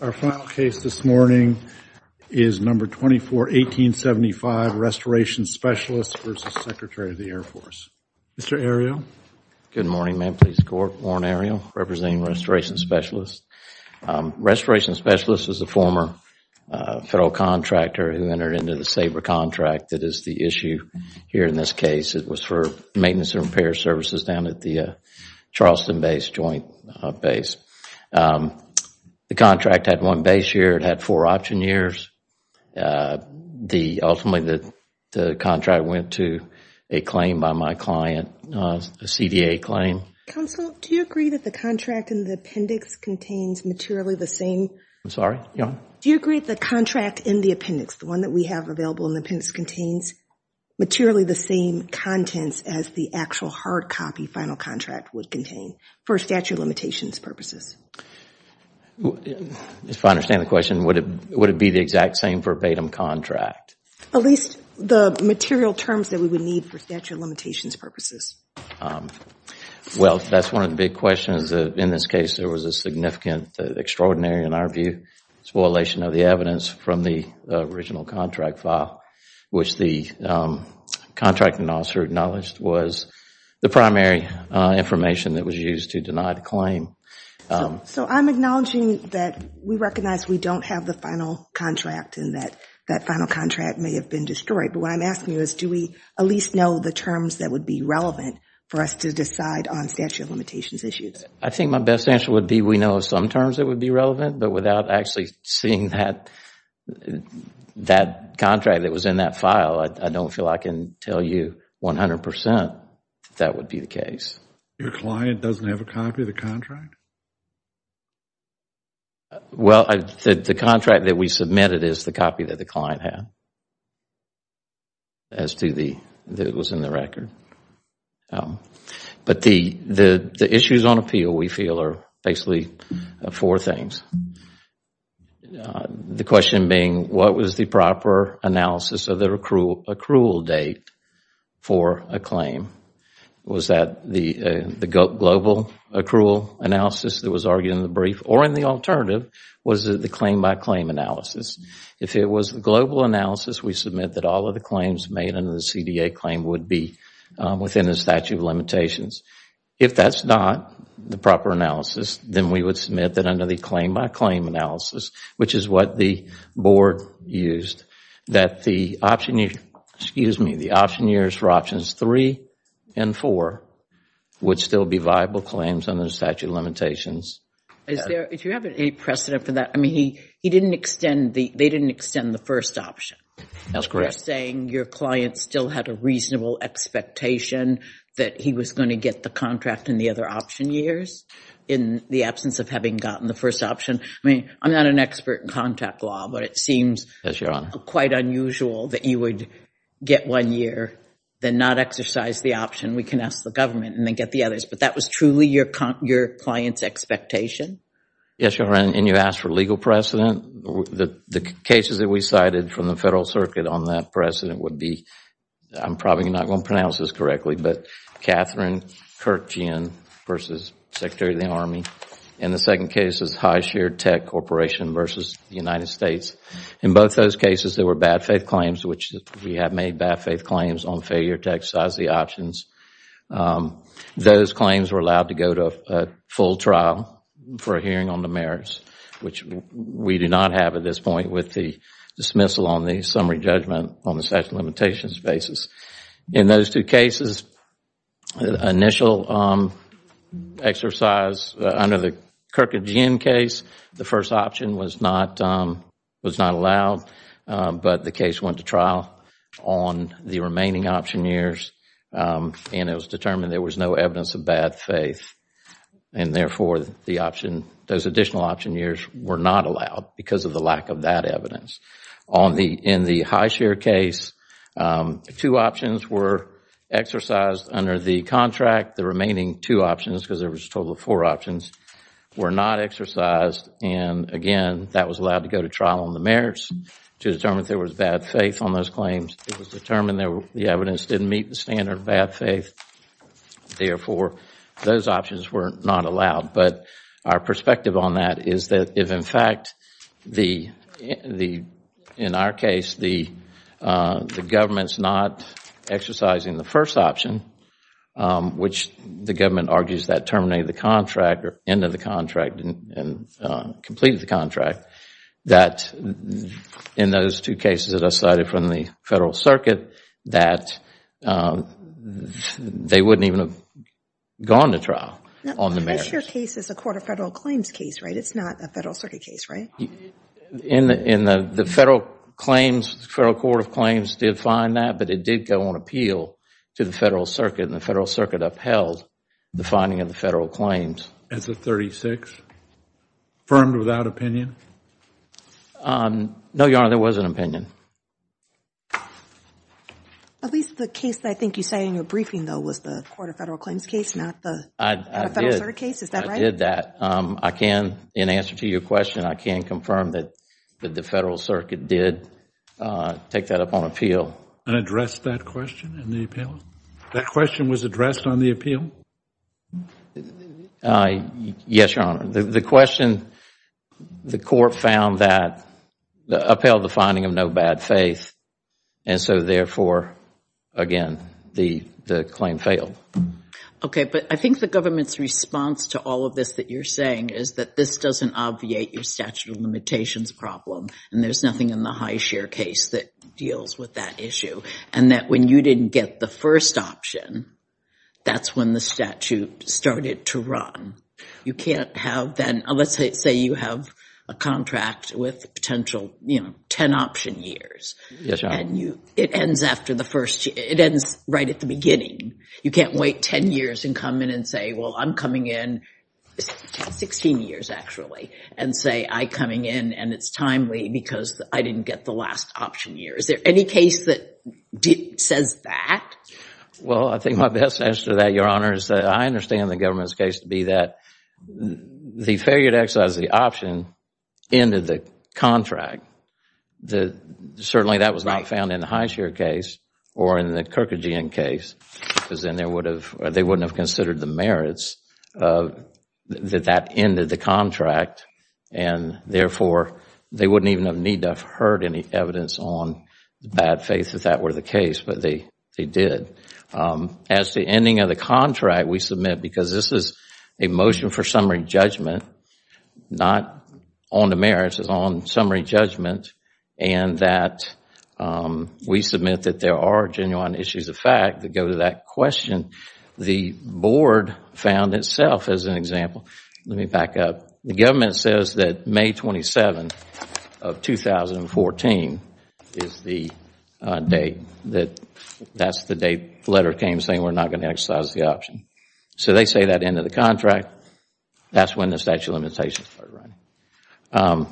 Our final case this morning is No. 241875, Restoration Specialists v. Secretary of the Air Force. Mr. Ariel. Good morning, Ma'am Police Corp. Warren Ariel, representing Restoration Specialists. Restoration Specialists is a former federal contractor who entered into the SABRA contract that is the issue here in this case. It was for maintenance and repair services down at the the contract had one base year. It had four option years. Ultimately, the contract went to a claim by my client, a CDA claim. Counsel, do you agree that the contract in the appendix contains materially the same? I'm sorry, yeah. Do you agree the contract in the appendix, the one that we have available in the appendix, contains materially the same contents as the actual hard copy final contract would contain for statute of limitations purposes? If I understand the question, would it be the exact same verbatim contract? At least the material terms that we would need for statute of limitations purposes. Well, that's one of the big questions. In this case, there was a significant, extraordinary, in our view, spoilation of the evidence from the original contract file, which the contracting officer acknowledged was the primary information that was used to deny the claim. So I'm acknowledging that we recognize we don't have the final contract and that that final contract may have been destroyed, but what I'm asking you is do we at least know the terms that would be relevant for us to decide on statute of limitations issues? I think my best answer would be we know of some terms that would be relevant, but without actually seeing that contract that was in that file, I don't feel I can tell you 100 percent that would be the case. Your client doesn't have a copy of the contract? Well, the contract that we submitted is the copy that the client had as to the, that it was in the record. But the issues on appeal, we feel, are basically four things. One, the question being what was the proper analysis of the accrual date for a claim? Was that the global accrual analysis that was argued in the brief? Or in the alternative, was it the claim-by-claim analysis? If it was the global analysis, we submit that all of the claims made under the CDA claim would be within the statute of limitations. If that's not the proper analysis, then we would submit that under the claim-by-claim analysis, which is what the board used, that the option, excuse me, the option years for options three and four would still be viable claims under the statute of limitations. Do you have any precedent for that? They didn't extend the first option. That's correct. Your client still had a reasonable expectation that he was going to get the contract in the other option years in the absence of having gotten the first option. I'm not an expert in contact law, but it seems quite unusual that you would get one year, then not exercise the option. We can ask the government and then get the others. But that was truly your client's expectation? Yes, Your Honor. And you asked for legal precedent. The cases that we cited from the Federal Circuit on that precedent would be, I'm probably not going to pronounce this correctly, but Catherine Kirkjian versus Secretary of the Army. And the second case is High Shared Tech Corporation versus the United States. In both those cases, there were bad faith claims, which we have made bad faith claims on failure to exercise the options. Those claims were allowed to go to a full trial for a hearing on the merits, which we do not have at this point with the dismissal on the summary judgment on the statute of limitations basis. In those two cases, initial exercise under the Kirkjian case, the first option was not allowed. But the case went to trial on the remaining option years. And it was determined there was no evidence of bad faith. And therefore, the option, those additional option years were not allowed because of the lack of that evidence. In the High Shared case, two options were exercised under the contract. The remaining two options, because there was a total of four options, were not exercised. And again, that was allowed to go to trial on the merits to determine if there was bad faith on those claims. It was determined the evidence didn't meet the standard of bad faith. Therefore, those options were not allowed. But our perspective on that is that if, in fact, in our case, the government is not exercising the first option, which the government argues that terminated the contract or ended the contract and completed the contract, that in those two cases that I cited from the Federal Circuit, that they wouldn't even have gone to trial on the merits. The High Shared case is a Court of Federal Claims case, right? It's not a Federal Circuit case, right? In the Federal Claims, the Federal Court of Claims did find that. But it did go on appeal to the Federal Circuit. And the Federal Circuit upheld the finding of the Federal Claims. As of 36, affirmed without opinion? No, Your Honor, there was an opinion. At least the case that I think you say in your briefing, though, was the Court of Federal Claims case, not the Federal Circuit case? Is that right? I did that. In answer to your question, I can confirm that the Federal Circuit did take that up on appeal. And addressed that question in the appeal? That question was addressed on the appeal? Yes, Your Honor. The question, the Court found that, upheld the finding of no bad faith. And so, therefore, again, the claim failed. Okay, but I think the government's response to all of this that you're saying is that this doesn't obviate your statute of limitations problem. And there's nothing in the High Shared case that deals with that issue. And that when you didn't get the first option, that's when the statute started to run. You can't have then, let's say you have a contract with potential, you know, 10 option years. Yes, Your Honor. And you, it ends after the first, it ends right at the beginning. You can't wait 10 years and come in and say, well, I'm coming in, 16 years actually, and say I coming in and it's timely because I didn't get the last option year. Is there any case that says that? Well, I think my best answer to that, Your Honor, is that I understand the government's case to be that the failure to exercise the option ended the contract. The, certainly that was not found in the High Shared case or in the Kirkagian case, because then they wouldn't have considered the merits that that ended the contract. And therefore, they wouldn't even need to have heard any evidence on the bad faith that that were the case, but they did. As to ending of the contract, we submit, because this is a motion for summary judgment, not on the merits, it's on summary judgment, and that we submit that there are genuine issues of fact that go to that question. The board found itself as an example. Let me back up. The government says that May 27 of 2014 is the date that, that's the date the letter came saying we're not going to exercise the option. So they say that ended the contract. That's when the statute of limitations started running.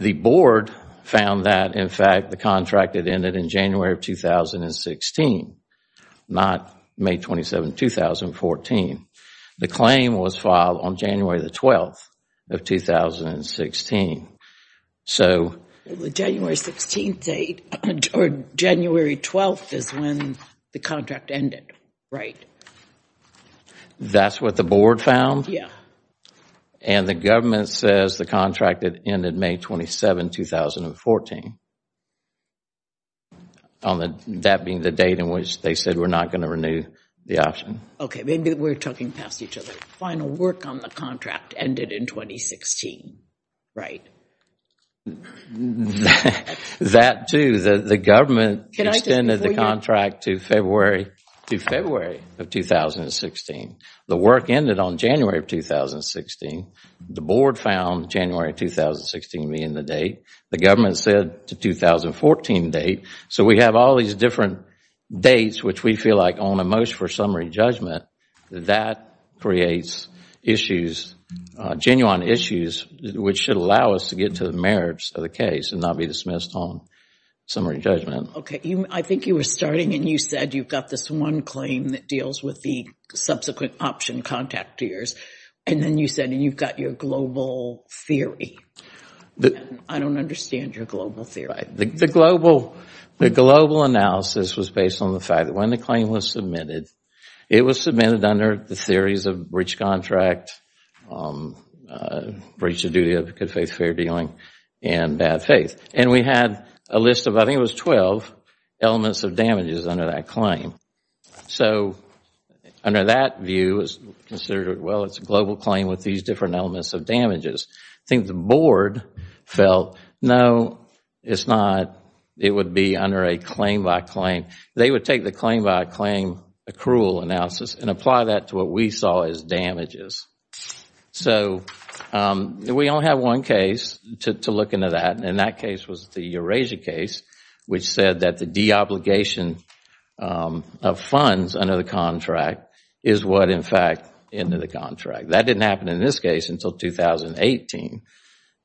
The board found that, in fact, the contract had ended in January of 2016, not May 27, 2014. The claim was filed on January the 12th of 2016. So the January 16th date or January 12th is when the contract ended, right? That's what the board found? Yeah. And the government says the contract ended May 27, 2014. On that being the date in which they said we're not going to renew the option. Okay, maybe we're talking past each other. Final work on the contract ended in 2016, right? That too, the government extended the contract to February of 2016. The work ended on January of 2016. The board found January 2016 being the date. The government said the 2014 date. So we have all these different dates which we feel like on a motion for summary judgment that creates genuine issues which should allow us to get to the merits of the case and not be dismissed on summary judgment. Okay. I think you were starting and you said you've got this one claim that deals with the subsequent option contactors. And then you said you've got your global theory. I don't understand your global theory. The global analysis was based on the fact that when the claim was submitted, it was submitted under the theories of breach contract, breach of duty of good faith, fair dealing, and bad faith. And we had a list of, I think it was 12 elements of damages under that claim. So under that view, it was considered, well, it's a global claim with these different elements of damages. I think the board felt, no, it's not. It would be under a claim by claim. They would take the claim by claim accrual analysis and apply that to what we saw as damages. So we only have one case to look into that. And that case was the Eurasia case which said that the de-obligation of funds under the contract is what in fact ended the contract. That didn't happen in this case until 2018.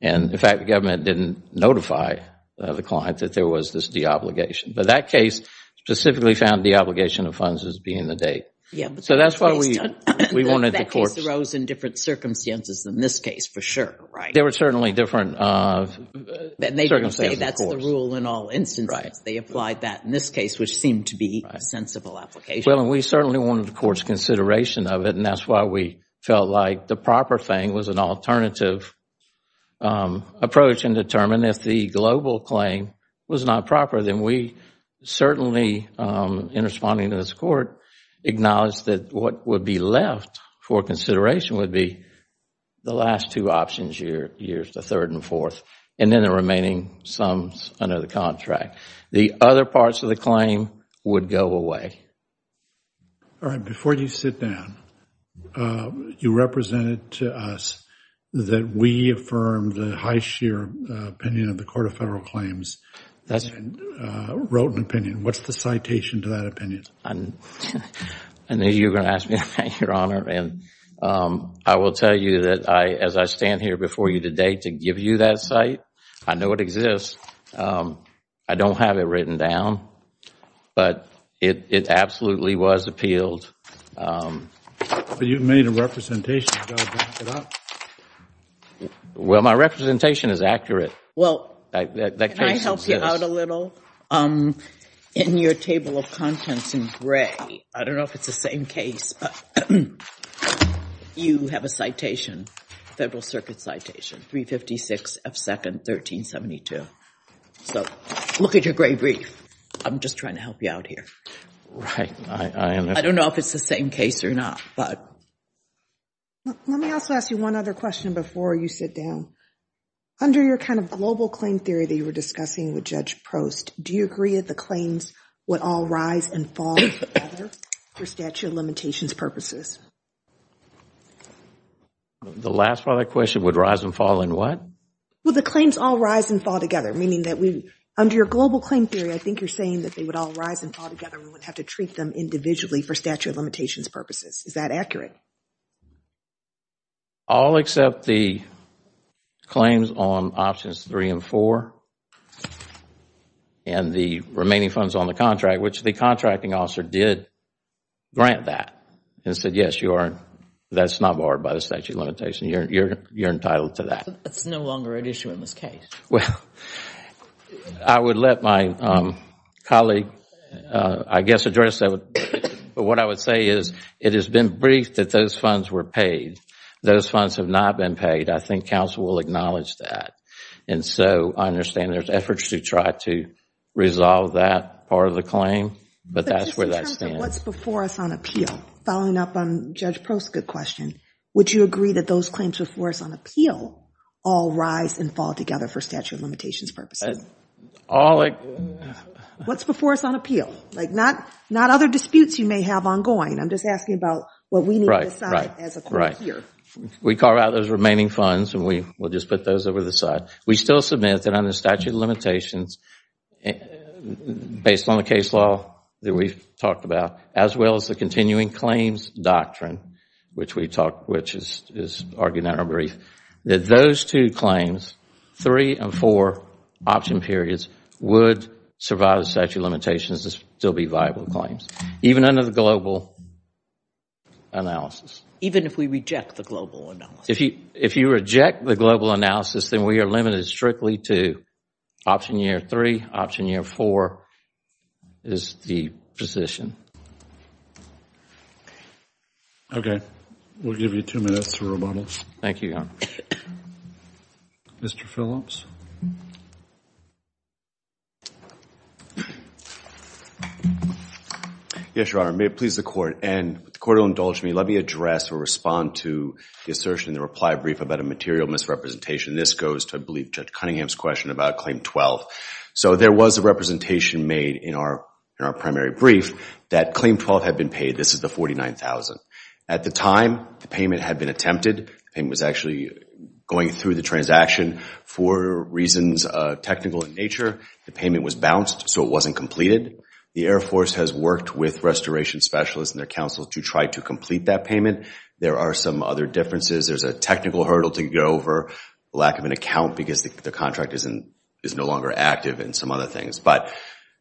And in fact, the government didn't notify the client that there was this de-obligation. But that case specifically found de-obligation of funds as being the date. Yeah, but that case arose in different circumstances than this case for sure, right? There were certainly different circumstances, of course. And they didn't say that's the rule in all instances. They applied that in this case which seemed to be a sensible application. Well, and we certainly wanted the court's consideration of it. And that's why we felt like the proper thing was an alternative approach and determine if the global claim was not proper. Then we certainly, in responding to this court, acknowledged that what would be left for consideration would be the last two options here, years the third and fourth, and then the remaining sums under the contract. The other parts of the claim would go away. All right, before you sit down, you represented to us that we affirmed the high sheer opinion of the Court of Federal Claims, wrote an opinion. What's the citation to that opinion? I knew you were going to ask me that, Your Honor. And I will tell you that as I stand here before you today to give you that site, I know it exists. I don't have it written down, but it absolutely was appealed. But you've made a representation. Well, my representation is accurate. Well, can I help you out a little? In your table of contents in gray, I don't know if it's the same case, but you have a citation, Federal Circuit citation, 356 F. 2nd, 1372. So look at your gray brief. I'm just trying to help you out here. Right. I don't know if it's the same case or not. Let me also ask you one other question before you sit down. Under your kind of global claim theory that you were discussing with Judge Prost, do you agree that the claims would all rise and fall together for statute of limitations purposes? The last part of that question, would rise and fall in what? Well, the claims all rise and fall together, meaning that under your global claim theory, I think you're saying that they would all rise and fall together. We would have to treat them individually for statute of limitations purposes. Is that accurate? All except the claims on options three and four and the remaining funds on the contract, which the contracting officer did grant that and said, yes, you are. That's not barred by the statute of limitations. You're entitled to that. It's no longer an issue in this case. Well, I would let my colleague, I guess, address that. But what I would say is it has been briefed that those funds were paid. Those funds have not been paid. I think counsel will acknowledge that. And so I understand there's efforts to try to resolve that part of the claim, but that's where that stands. What's before us on appeal? Following up on Judge Prost's good question, would you agree that those claims before us on appeal all rise and fall together for statute of limitations purposes? What's before us on appeal? Not other disputes you may have ongoing. I'm just asking about what we need to decide as a court here. We carve out those remaining funds and we will just put those over the side. We still submit that under statute of limitations, based on the case law that we've talked about, as well as the continuing claims doctrine, which is argued in our brief, that those two claims, three and four option periods, would survive the statute of limitations and still be viable claims, even under the global analysis. Even if we reject the global analysis? If you reject the global analysis, then we are limited strictly to option year three, option year four is the position. Okay, we'll give you two minutes to rebuttal. Thank you, Your Honor. Mr. Phillips? Yes, Your Honor. May it please the court. And if the court will indulge me, let me address or respond to the assertion in the reply brief about a material misrepresentation. This goes to, I believe, Judge Cunningham's question about Claim 12. So there was a representation made in our primary brief that Claim 12 had been paid. This is the $49,000. At the time, the payment had been attempted. It was actually going through the transaction for reasons technical in nature. The payment was bounced, so it wasn't completed. The Air Force has worked with restoration specialists and their counsel to try to complete that payment. There are some other differences. There's a technical hurdle to get over, lack of an account because the contract is no longer active, and some other things.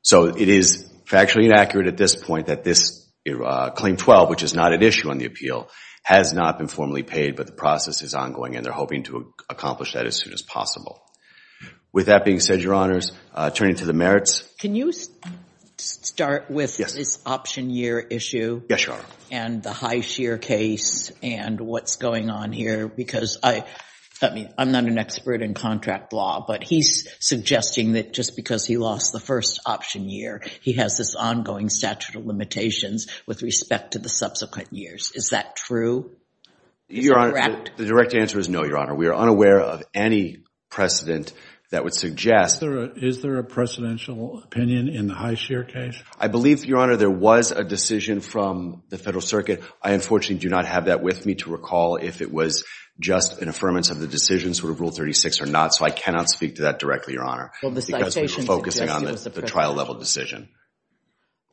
So it is factually inaccurate at this point that this Claim 12, which is not at issue on the appeal, has not been formally paid. But the process is ongoing, and they're hoping to accomplish that as soon as possible. With that being said, Your Honors, turning to the merits. Can you start with this option year issue? Yes, Your Honor. And the high sheer case, and what's going on here? Because I'm not an expert in contract law, but he's suggesting that just because he lost the first option year, he has this ongoing statute of limitations with respect to the subsequent years. Is that true? Your Honor, the direct answer is no, Your Honor. We are unaware of any precedent that would suggest. Is there a precedential opinion in the high sheer case? I believe, Your Honor, there was a decision from the Federal Circuit. I unfortunately do not have that with me to recall if it was just an affirmance of the decision, sort of Rule 36 or not. So I cannot speak to that directly, Your Honor, because we're focusing on the trial level decision.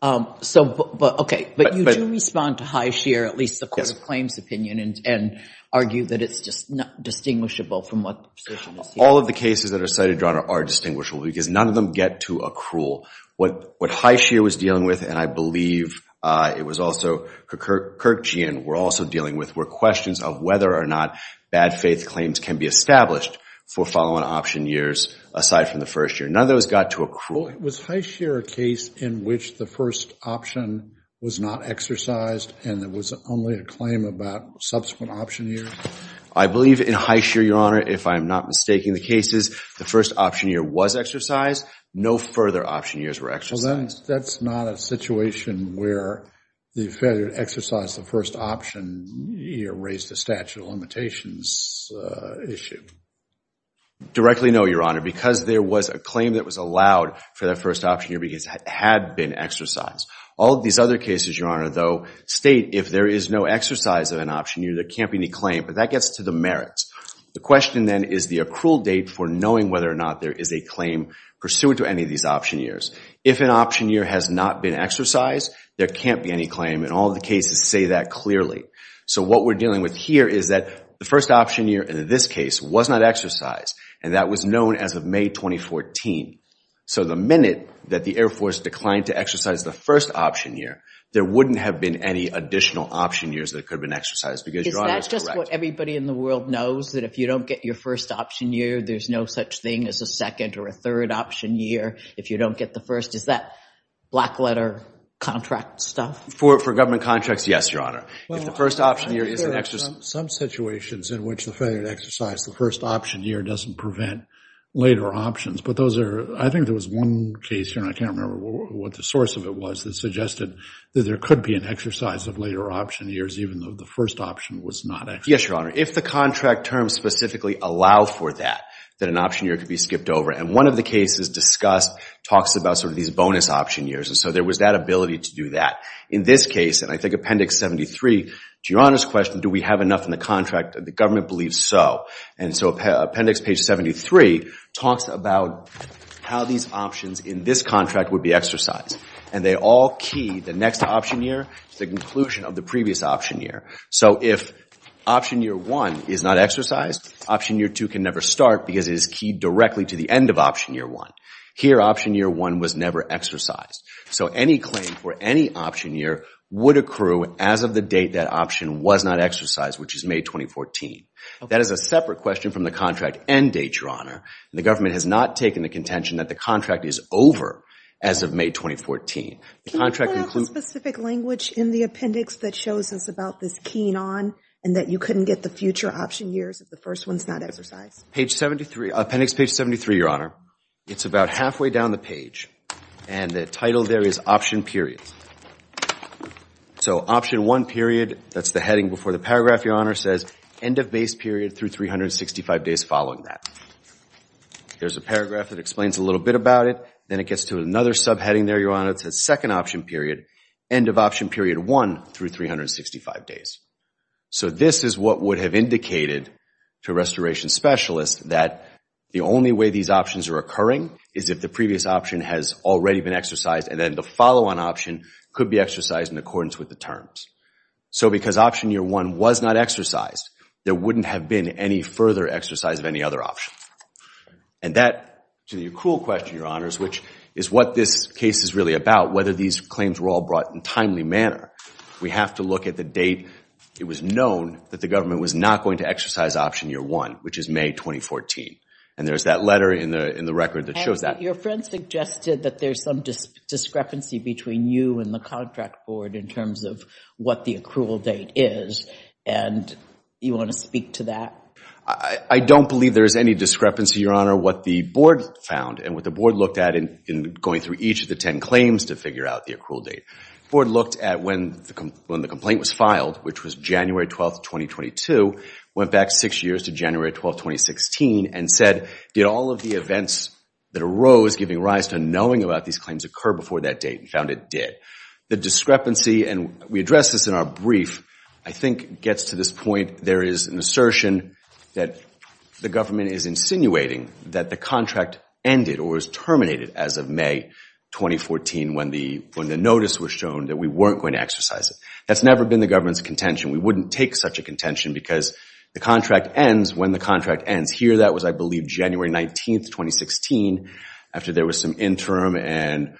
OK, but you do respond to high sheer, at least the court of claims opinion, and argue that it's just not distinguishable from what the position is here. All of the cases that are cited, Your Honor, are distinguishable, because none of them get to accrual. What high sheer was dealing with, and I believe it was also Kirkjean were also dealing with, were questions of whether or not bad faith claims can be established for follow-on option years, aside from the first year. None of those got to accrual. Was high sheer a case in which the first option was not exercised, and it was only a claim about subsequent option years? I believe in high sheer, Your Honor, if I'm not mistaking the cases, the first option year was exercised. No further option years were exercised. That's not a situation where the failure to exercise the first option year raised a statute of limitations issue. Directly no, Your Honor, because there was a claim that was allowed for that first option year, because it had been exercised. All of these other cases, Your Honor, though, state if there is no exercise of an option year, there can't be any claim. But that gets to the merits. The question then is the accrual date for knowing whether or not there is a claim pursuant to any of these option years. If an option year has not been exercised, there can't be any claim. And all the cases say that clearly. So what we're dealing with here is that the first option year in this case was not exercised, and that was known as of May 2014. So the minute that the Air Force declined to exercise the first option year, there wouldn't have been any additional option years that could have been exercised, because Your Honor is correct. Is that just what everybody in the world knows, that if you don't get your first option year, there's no such thing as a second or a third option year if you don't get the first? Is that black letter contract stuff? For government contracts, yes, Your Honor. If the first option year isn't exercised. Some situations in which the failure to exercise the first option year doesn't prevent later options. But those are, I think there was one case, Your Honor, I can't remember what the source of it was, that suggested that there could be an exercise of later option years, even though the first option was not exercised. Yes, Your Honor. If the contract terms specifically allow for that, that an option year could be skipped over. And one of the cases discussed talks about sort of these bonus option years. And so there was that ability to do that. In this case, and I think Appendix 73, to Your Honor's question, do we have enough in the contract? The government believes so. And so Appendix page 73 talks about how these options in this contract would be exercised. And they all key the next option year to the conclusion of the previous option year. So if option year one is not exercised, option year two can never start because it is keyed directly to the end of option year one. Here, option year one was never exercised. So any claim for any option year would accrue as of the date that option was not exercised, which is May 2014. That is a separate question from the contract end date, The government has not taken the contention that the contract is over as of May 2014. The contract includes- Can you point out the specific language in the appendix that shows us about this keying on and that you couldn't get the future option years if the first one's not exercised? Page 73, Appendix page 73, Your Honor. It's about halfway down the page. And the title there is option period. So option one period, that's the heading before the paragraph, Your Honor, says, end of base period through 365 days following that. There's a paragraph that explains a little bit about it. Then it gets to another subheading there, Your Honor. It says second option period, end of option period one through 365 days. So this is what would have indicated to a restoration specialist that the only way these options are occurring is if the previous option has already been exercised and then the follow-on option could be exercised in accordance with the terms. So because option year one was not exercised, there wouldn't have been any further exercise of any other option. And that, to the accrual question, Your Honors, which is what this case is really about, whether these claims were all brought in a timely manner, we have to look at the date it was known that the government was not going to exercise option year one, which is May 2014. And there's that letter in the record that shows that. And your friend suggested that there's some discrepancy between you and the contract board in terms of what the accrual date is. And you want to speak to that? I don't believe there is any discrepancy, Your Honor, what the board found and what the board looked at in going through each of the 10 claims to figure out the accrual date. Board looked at when the complaint was filed, which was January 12, 2022, went back six years to January 12, 2016, and said, did all of the events that arose giving rise to knowing about these claims occur before that date, and found it did. The discrepancy, and we addressed this in our brief, I think gets to this point. There is an assertion that the government is insinuating that the contract ended or was terminated as of May 2014 when the notice was shown that we weren't going to exercise it. That's never been the government's contention. We wouldn't take such a contention because the contract ends when the contract ends. Here that was, I believe, January 19, 2016 after there was some interim and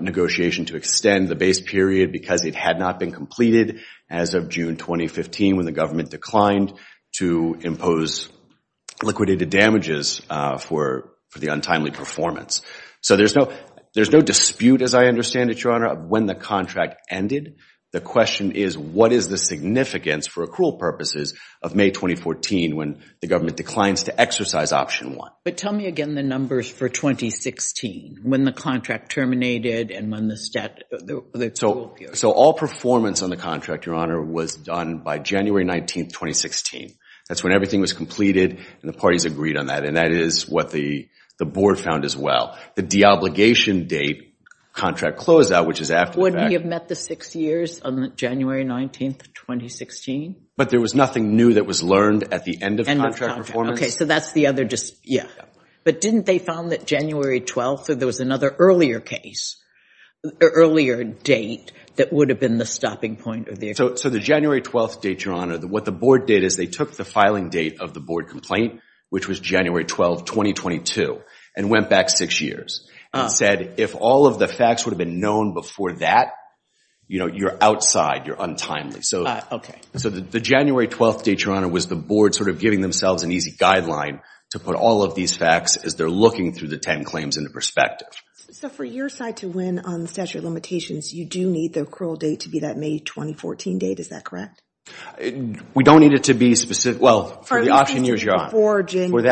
negotiation to extend the base period because it had not been completed as of June 2015 when the government declined to impose liquidated damages for the untimely performance. So there's no dispute, as I understand it, Your Honor, of when the contract ended. The question is, what is the significance for accrual purposes of May 2014 when the government declines to exercise option one? But tell me again the numbers for 2016, when the contract terminated and when the stat, the accrual period. So all performance on the contract, Your Honor, was done by January 19, 2016. That's when everything was completed and the parties agreed on that. And that is what the board found as well. The deobligation date, contract closed out, which is after the fact. Wouldn't he have met the six years on January 19, 2016? But there was nothing new that was learned at the end of contract performance. OK, so that's the other dispute. Yeah. But didn't they found that January 12, there was another earlier case, earlier date, that would have been the stopping point of the agreement? So the January 12 date, Your Honor, what the board did is they took the filing date of the board complaint, which was January 12, 2022, and went back six years. And said, if all of the facts would have been known before that, you're outside. You're untimely. So the January 12 date, Your Honor, was the board sort of giving themselves an easy guideline to put all of these facts as they're looking through the 10 claims into perspective. So for your side to win on the statute of limitations, you do need the accrual date to be that May 2014 date. Is that correct? We don't need it to be specific. Well, for the option, Your Honor, for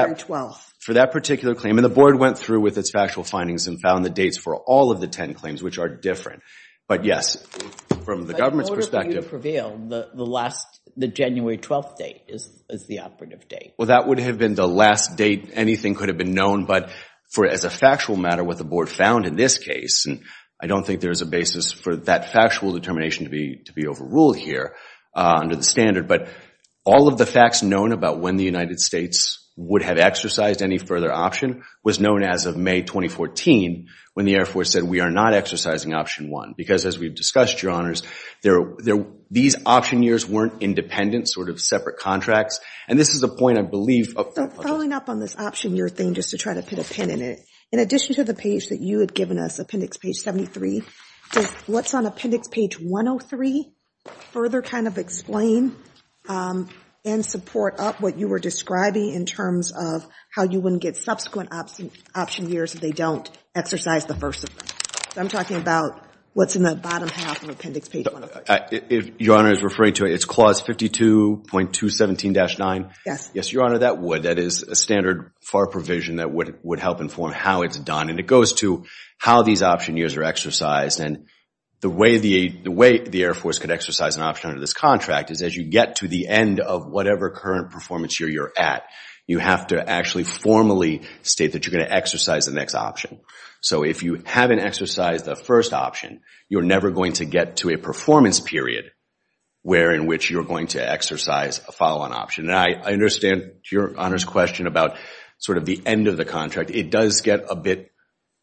that particular claim, and the board went through with its factual findings and found the dates for all of the 10 claims, which are different. But yes, from the government's perspective. But in order for you to prevail, the last, the January 12 date is the operative date. Well, that would have been the last date anything could have been known. But for as a factual matter, what the board found in this case, and I don't think there is a basis for that factual determination to be overruled here under the standard. But all of the facts known about when the United States would have exercised any further option was known as of May 2014, when the Air Force said, we are not exercising option one. Because as we've discussed, Your Honors, these option years weren't independent, sort of separate contracts. And this is a point, I believe. So following up on this option year thing, just to try to put a pin in it, in addition to the page that you had given us, appendix page 73, what's on appendix page 103 further kind of explain and support up what you were describing in terms of how you wouldn't get subsequent option years if they don't exercise the first of them? I'm talking about what's in the bottom half of appendix page 103. Your Honor is referring to it. It's clause 52.217-9. Yes. Yes, Your Honor, that is a standard FAR provision that would help inform how it's done. And it goes to how these option years are exercised. And the way the Air Force could exercise an option under this contract is as you get to the end of whatever current performance year you're at, you have to actually formally state that you're going to exercise the next option. So if you haven't exercised the first option, you're never going to get to a performance period where in which you're going to exercise a follow-on option. And I understand Your Honor's question about sort of the end of the contract. It does get a bit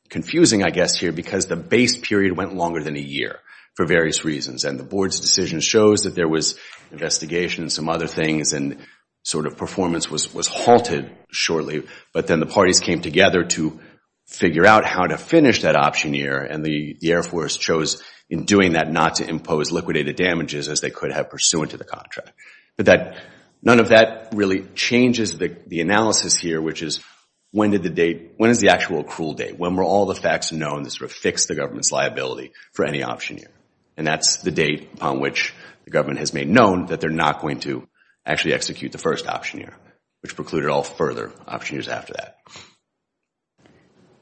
confusing, I guess, here because the base period went longer than a year for various reasons. And the board's decision shows that there was investigation and some other things. And sort of performance was halted shortly. But then the parties came together to figure out how to finish that option year. And the Air Force chose in doing that not to impose liquidated damages as they could have pursuant to the contract. But none of that really changes the analysis here, which is when is the actual accrual date? When were all the facts known to sort of fix the government's liability for any option year? And that's the date upon which the government has made known that they're not going to actually execute the first option year, which precluded all further options after that.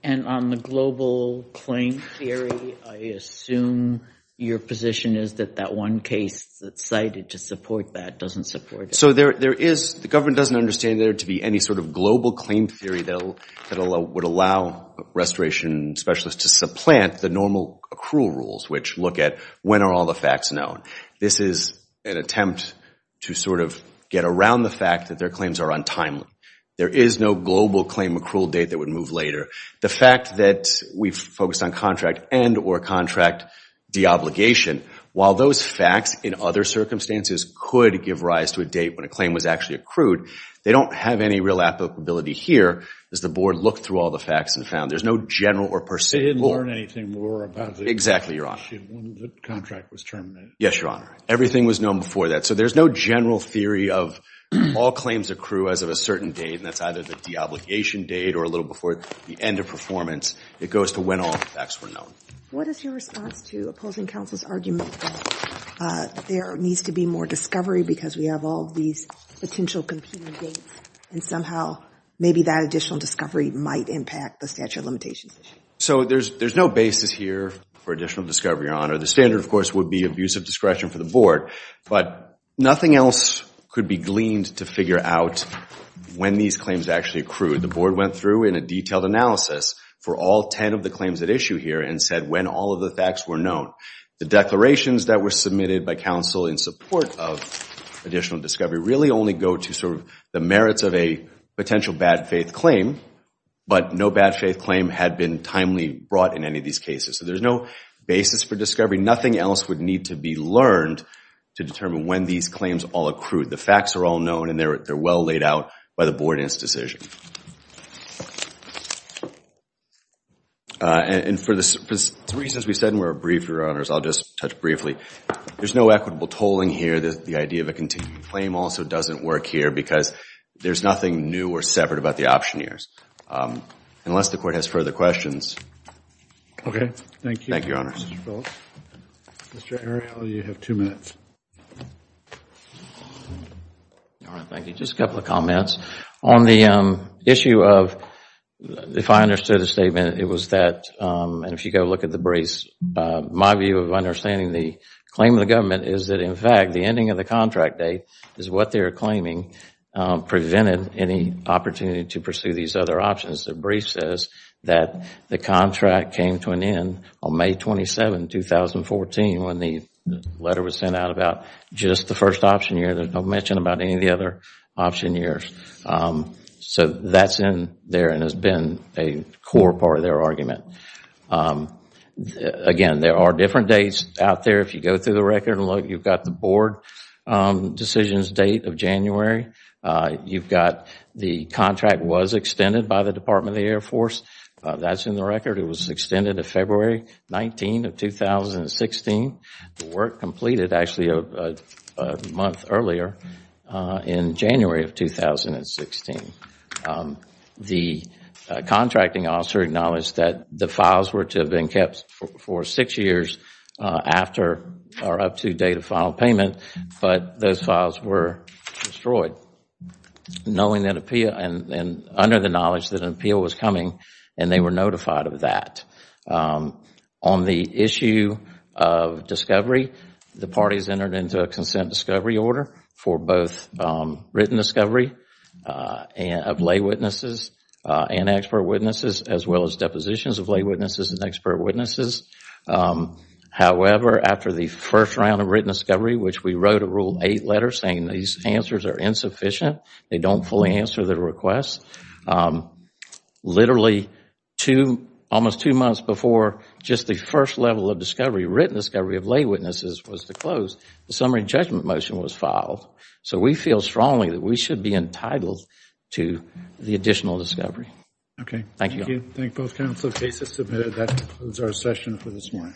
And on the global claim theory, I assume your position is that that one case that's cited to support that doesn't support it. So the government doesn't understand there to be any sort of global claim theory that would allow restoration specialists to supplant the normal accrual rules, which look at when are all the facts known. This is an attempt to sort of get around the fact that their claims are untimely. There is no global claim accrual date that would move later. The fact that we've focused on contract end or contract de-obligation, while those facts in other circumstances could give rise to a date when a claim was actually accrued, they don't have any real applicability here as the board looked through all the facts and found. There's no general or personal. They didn't learn anything more about the contract was terminated. Yes, Your Honor. Everything was known before that. So there's no general theory of all claims accrue as of a certain date. And that's either the de-obligation date or a little before the end of performance. It goes to when all the facts were known. What is your response to opposing counsel's argument that there needs to be more discovery because we have all these potential competing dates and somehow maybe that additional discovery might impact the statute of limitations? So there's no basis here for additional discovery, Your Honor. The standard, of course, would be abusive discretion for the board, but nothing else could be gleaned to figure out when these claims actually accrued. The board went through in a detailed analysis for all 10 of the claims at issue here and said when all of the facts were known. The declarations that were submitted by counsel in support of additional discovery really only go to the merits of a potential bad faith claim, but no bad faith claim had been timely brought in any of these cases. So there's no basis for discovery. Nothing else would need to be learned to determine when these claims all accrued. The facts are all known and they're well laid out by the board in its decision. And for the reasons we said and were briefed, Your Honors, I'll just touch briefly. There's no equitable tolling here. The idea of a continued claim also doesn't work here because there's nothing new or separate about the optioneers. Unless the court has further questions. OK, thank you. Thank you, Your Honors. Mr. Phillips. Mr. Ariel, you have two minutes. Thank you. Just a couple of comments. On the issue of, if I understood the statement, it was that, and if you go look at the briefs, my view of understanding the claim of the government is that, in fact, the ending of the contract date is what they're claiming prevented any opportunity to pursue these other options. The brief says that the contract came to an end on May 27, 2014 when the letter was sent out about just the first option year. No mention about any of the other option years. So that's in there and has been a core part of their argument. Again, there are different dates out there. If you go through the record and look, you've got the board decisions date of January. You've got the contract was extended by the Department of the Air Force. That's in the record. It was extended to February 19 of 2016. The work completed, actually, a month earlier in January of 2016. The contracting officer acknowledged that the files were to have been kept for six years after or up to date of final payment, but those files were destroyed, under the knowledge that an appeal was coming, and they were notified of that. On the issue of discovery, the parties entered into a consent discovery order for both written discovery of lay witnesses and expert witnesses, as well as depositions of lay witnesses and expert witnesses. However, after the first round of written discovery, which we wrote a Rule 8 letter saying these answers are insufficient, they don't fully answer the request, literally almost two months before just the first level of discovery, written discovery of lay witnesses, was to close, the summary judgment motion was filed. So we feel strongly that we should be entitled to the additional discovery. OK. Thank you. Thank both counsel. Case is submitted. That concludes our session for this morning.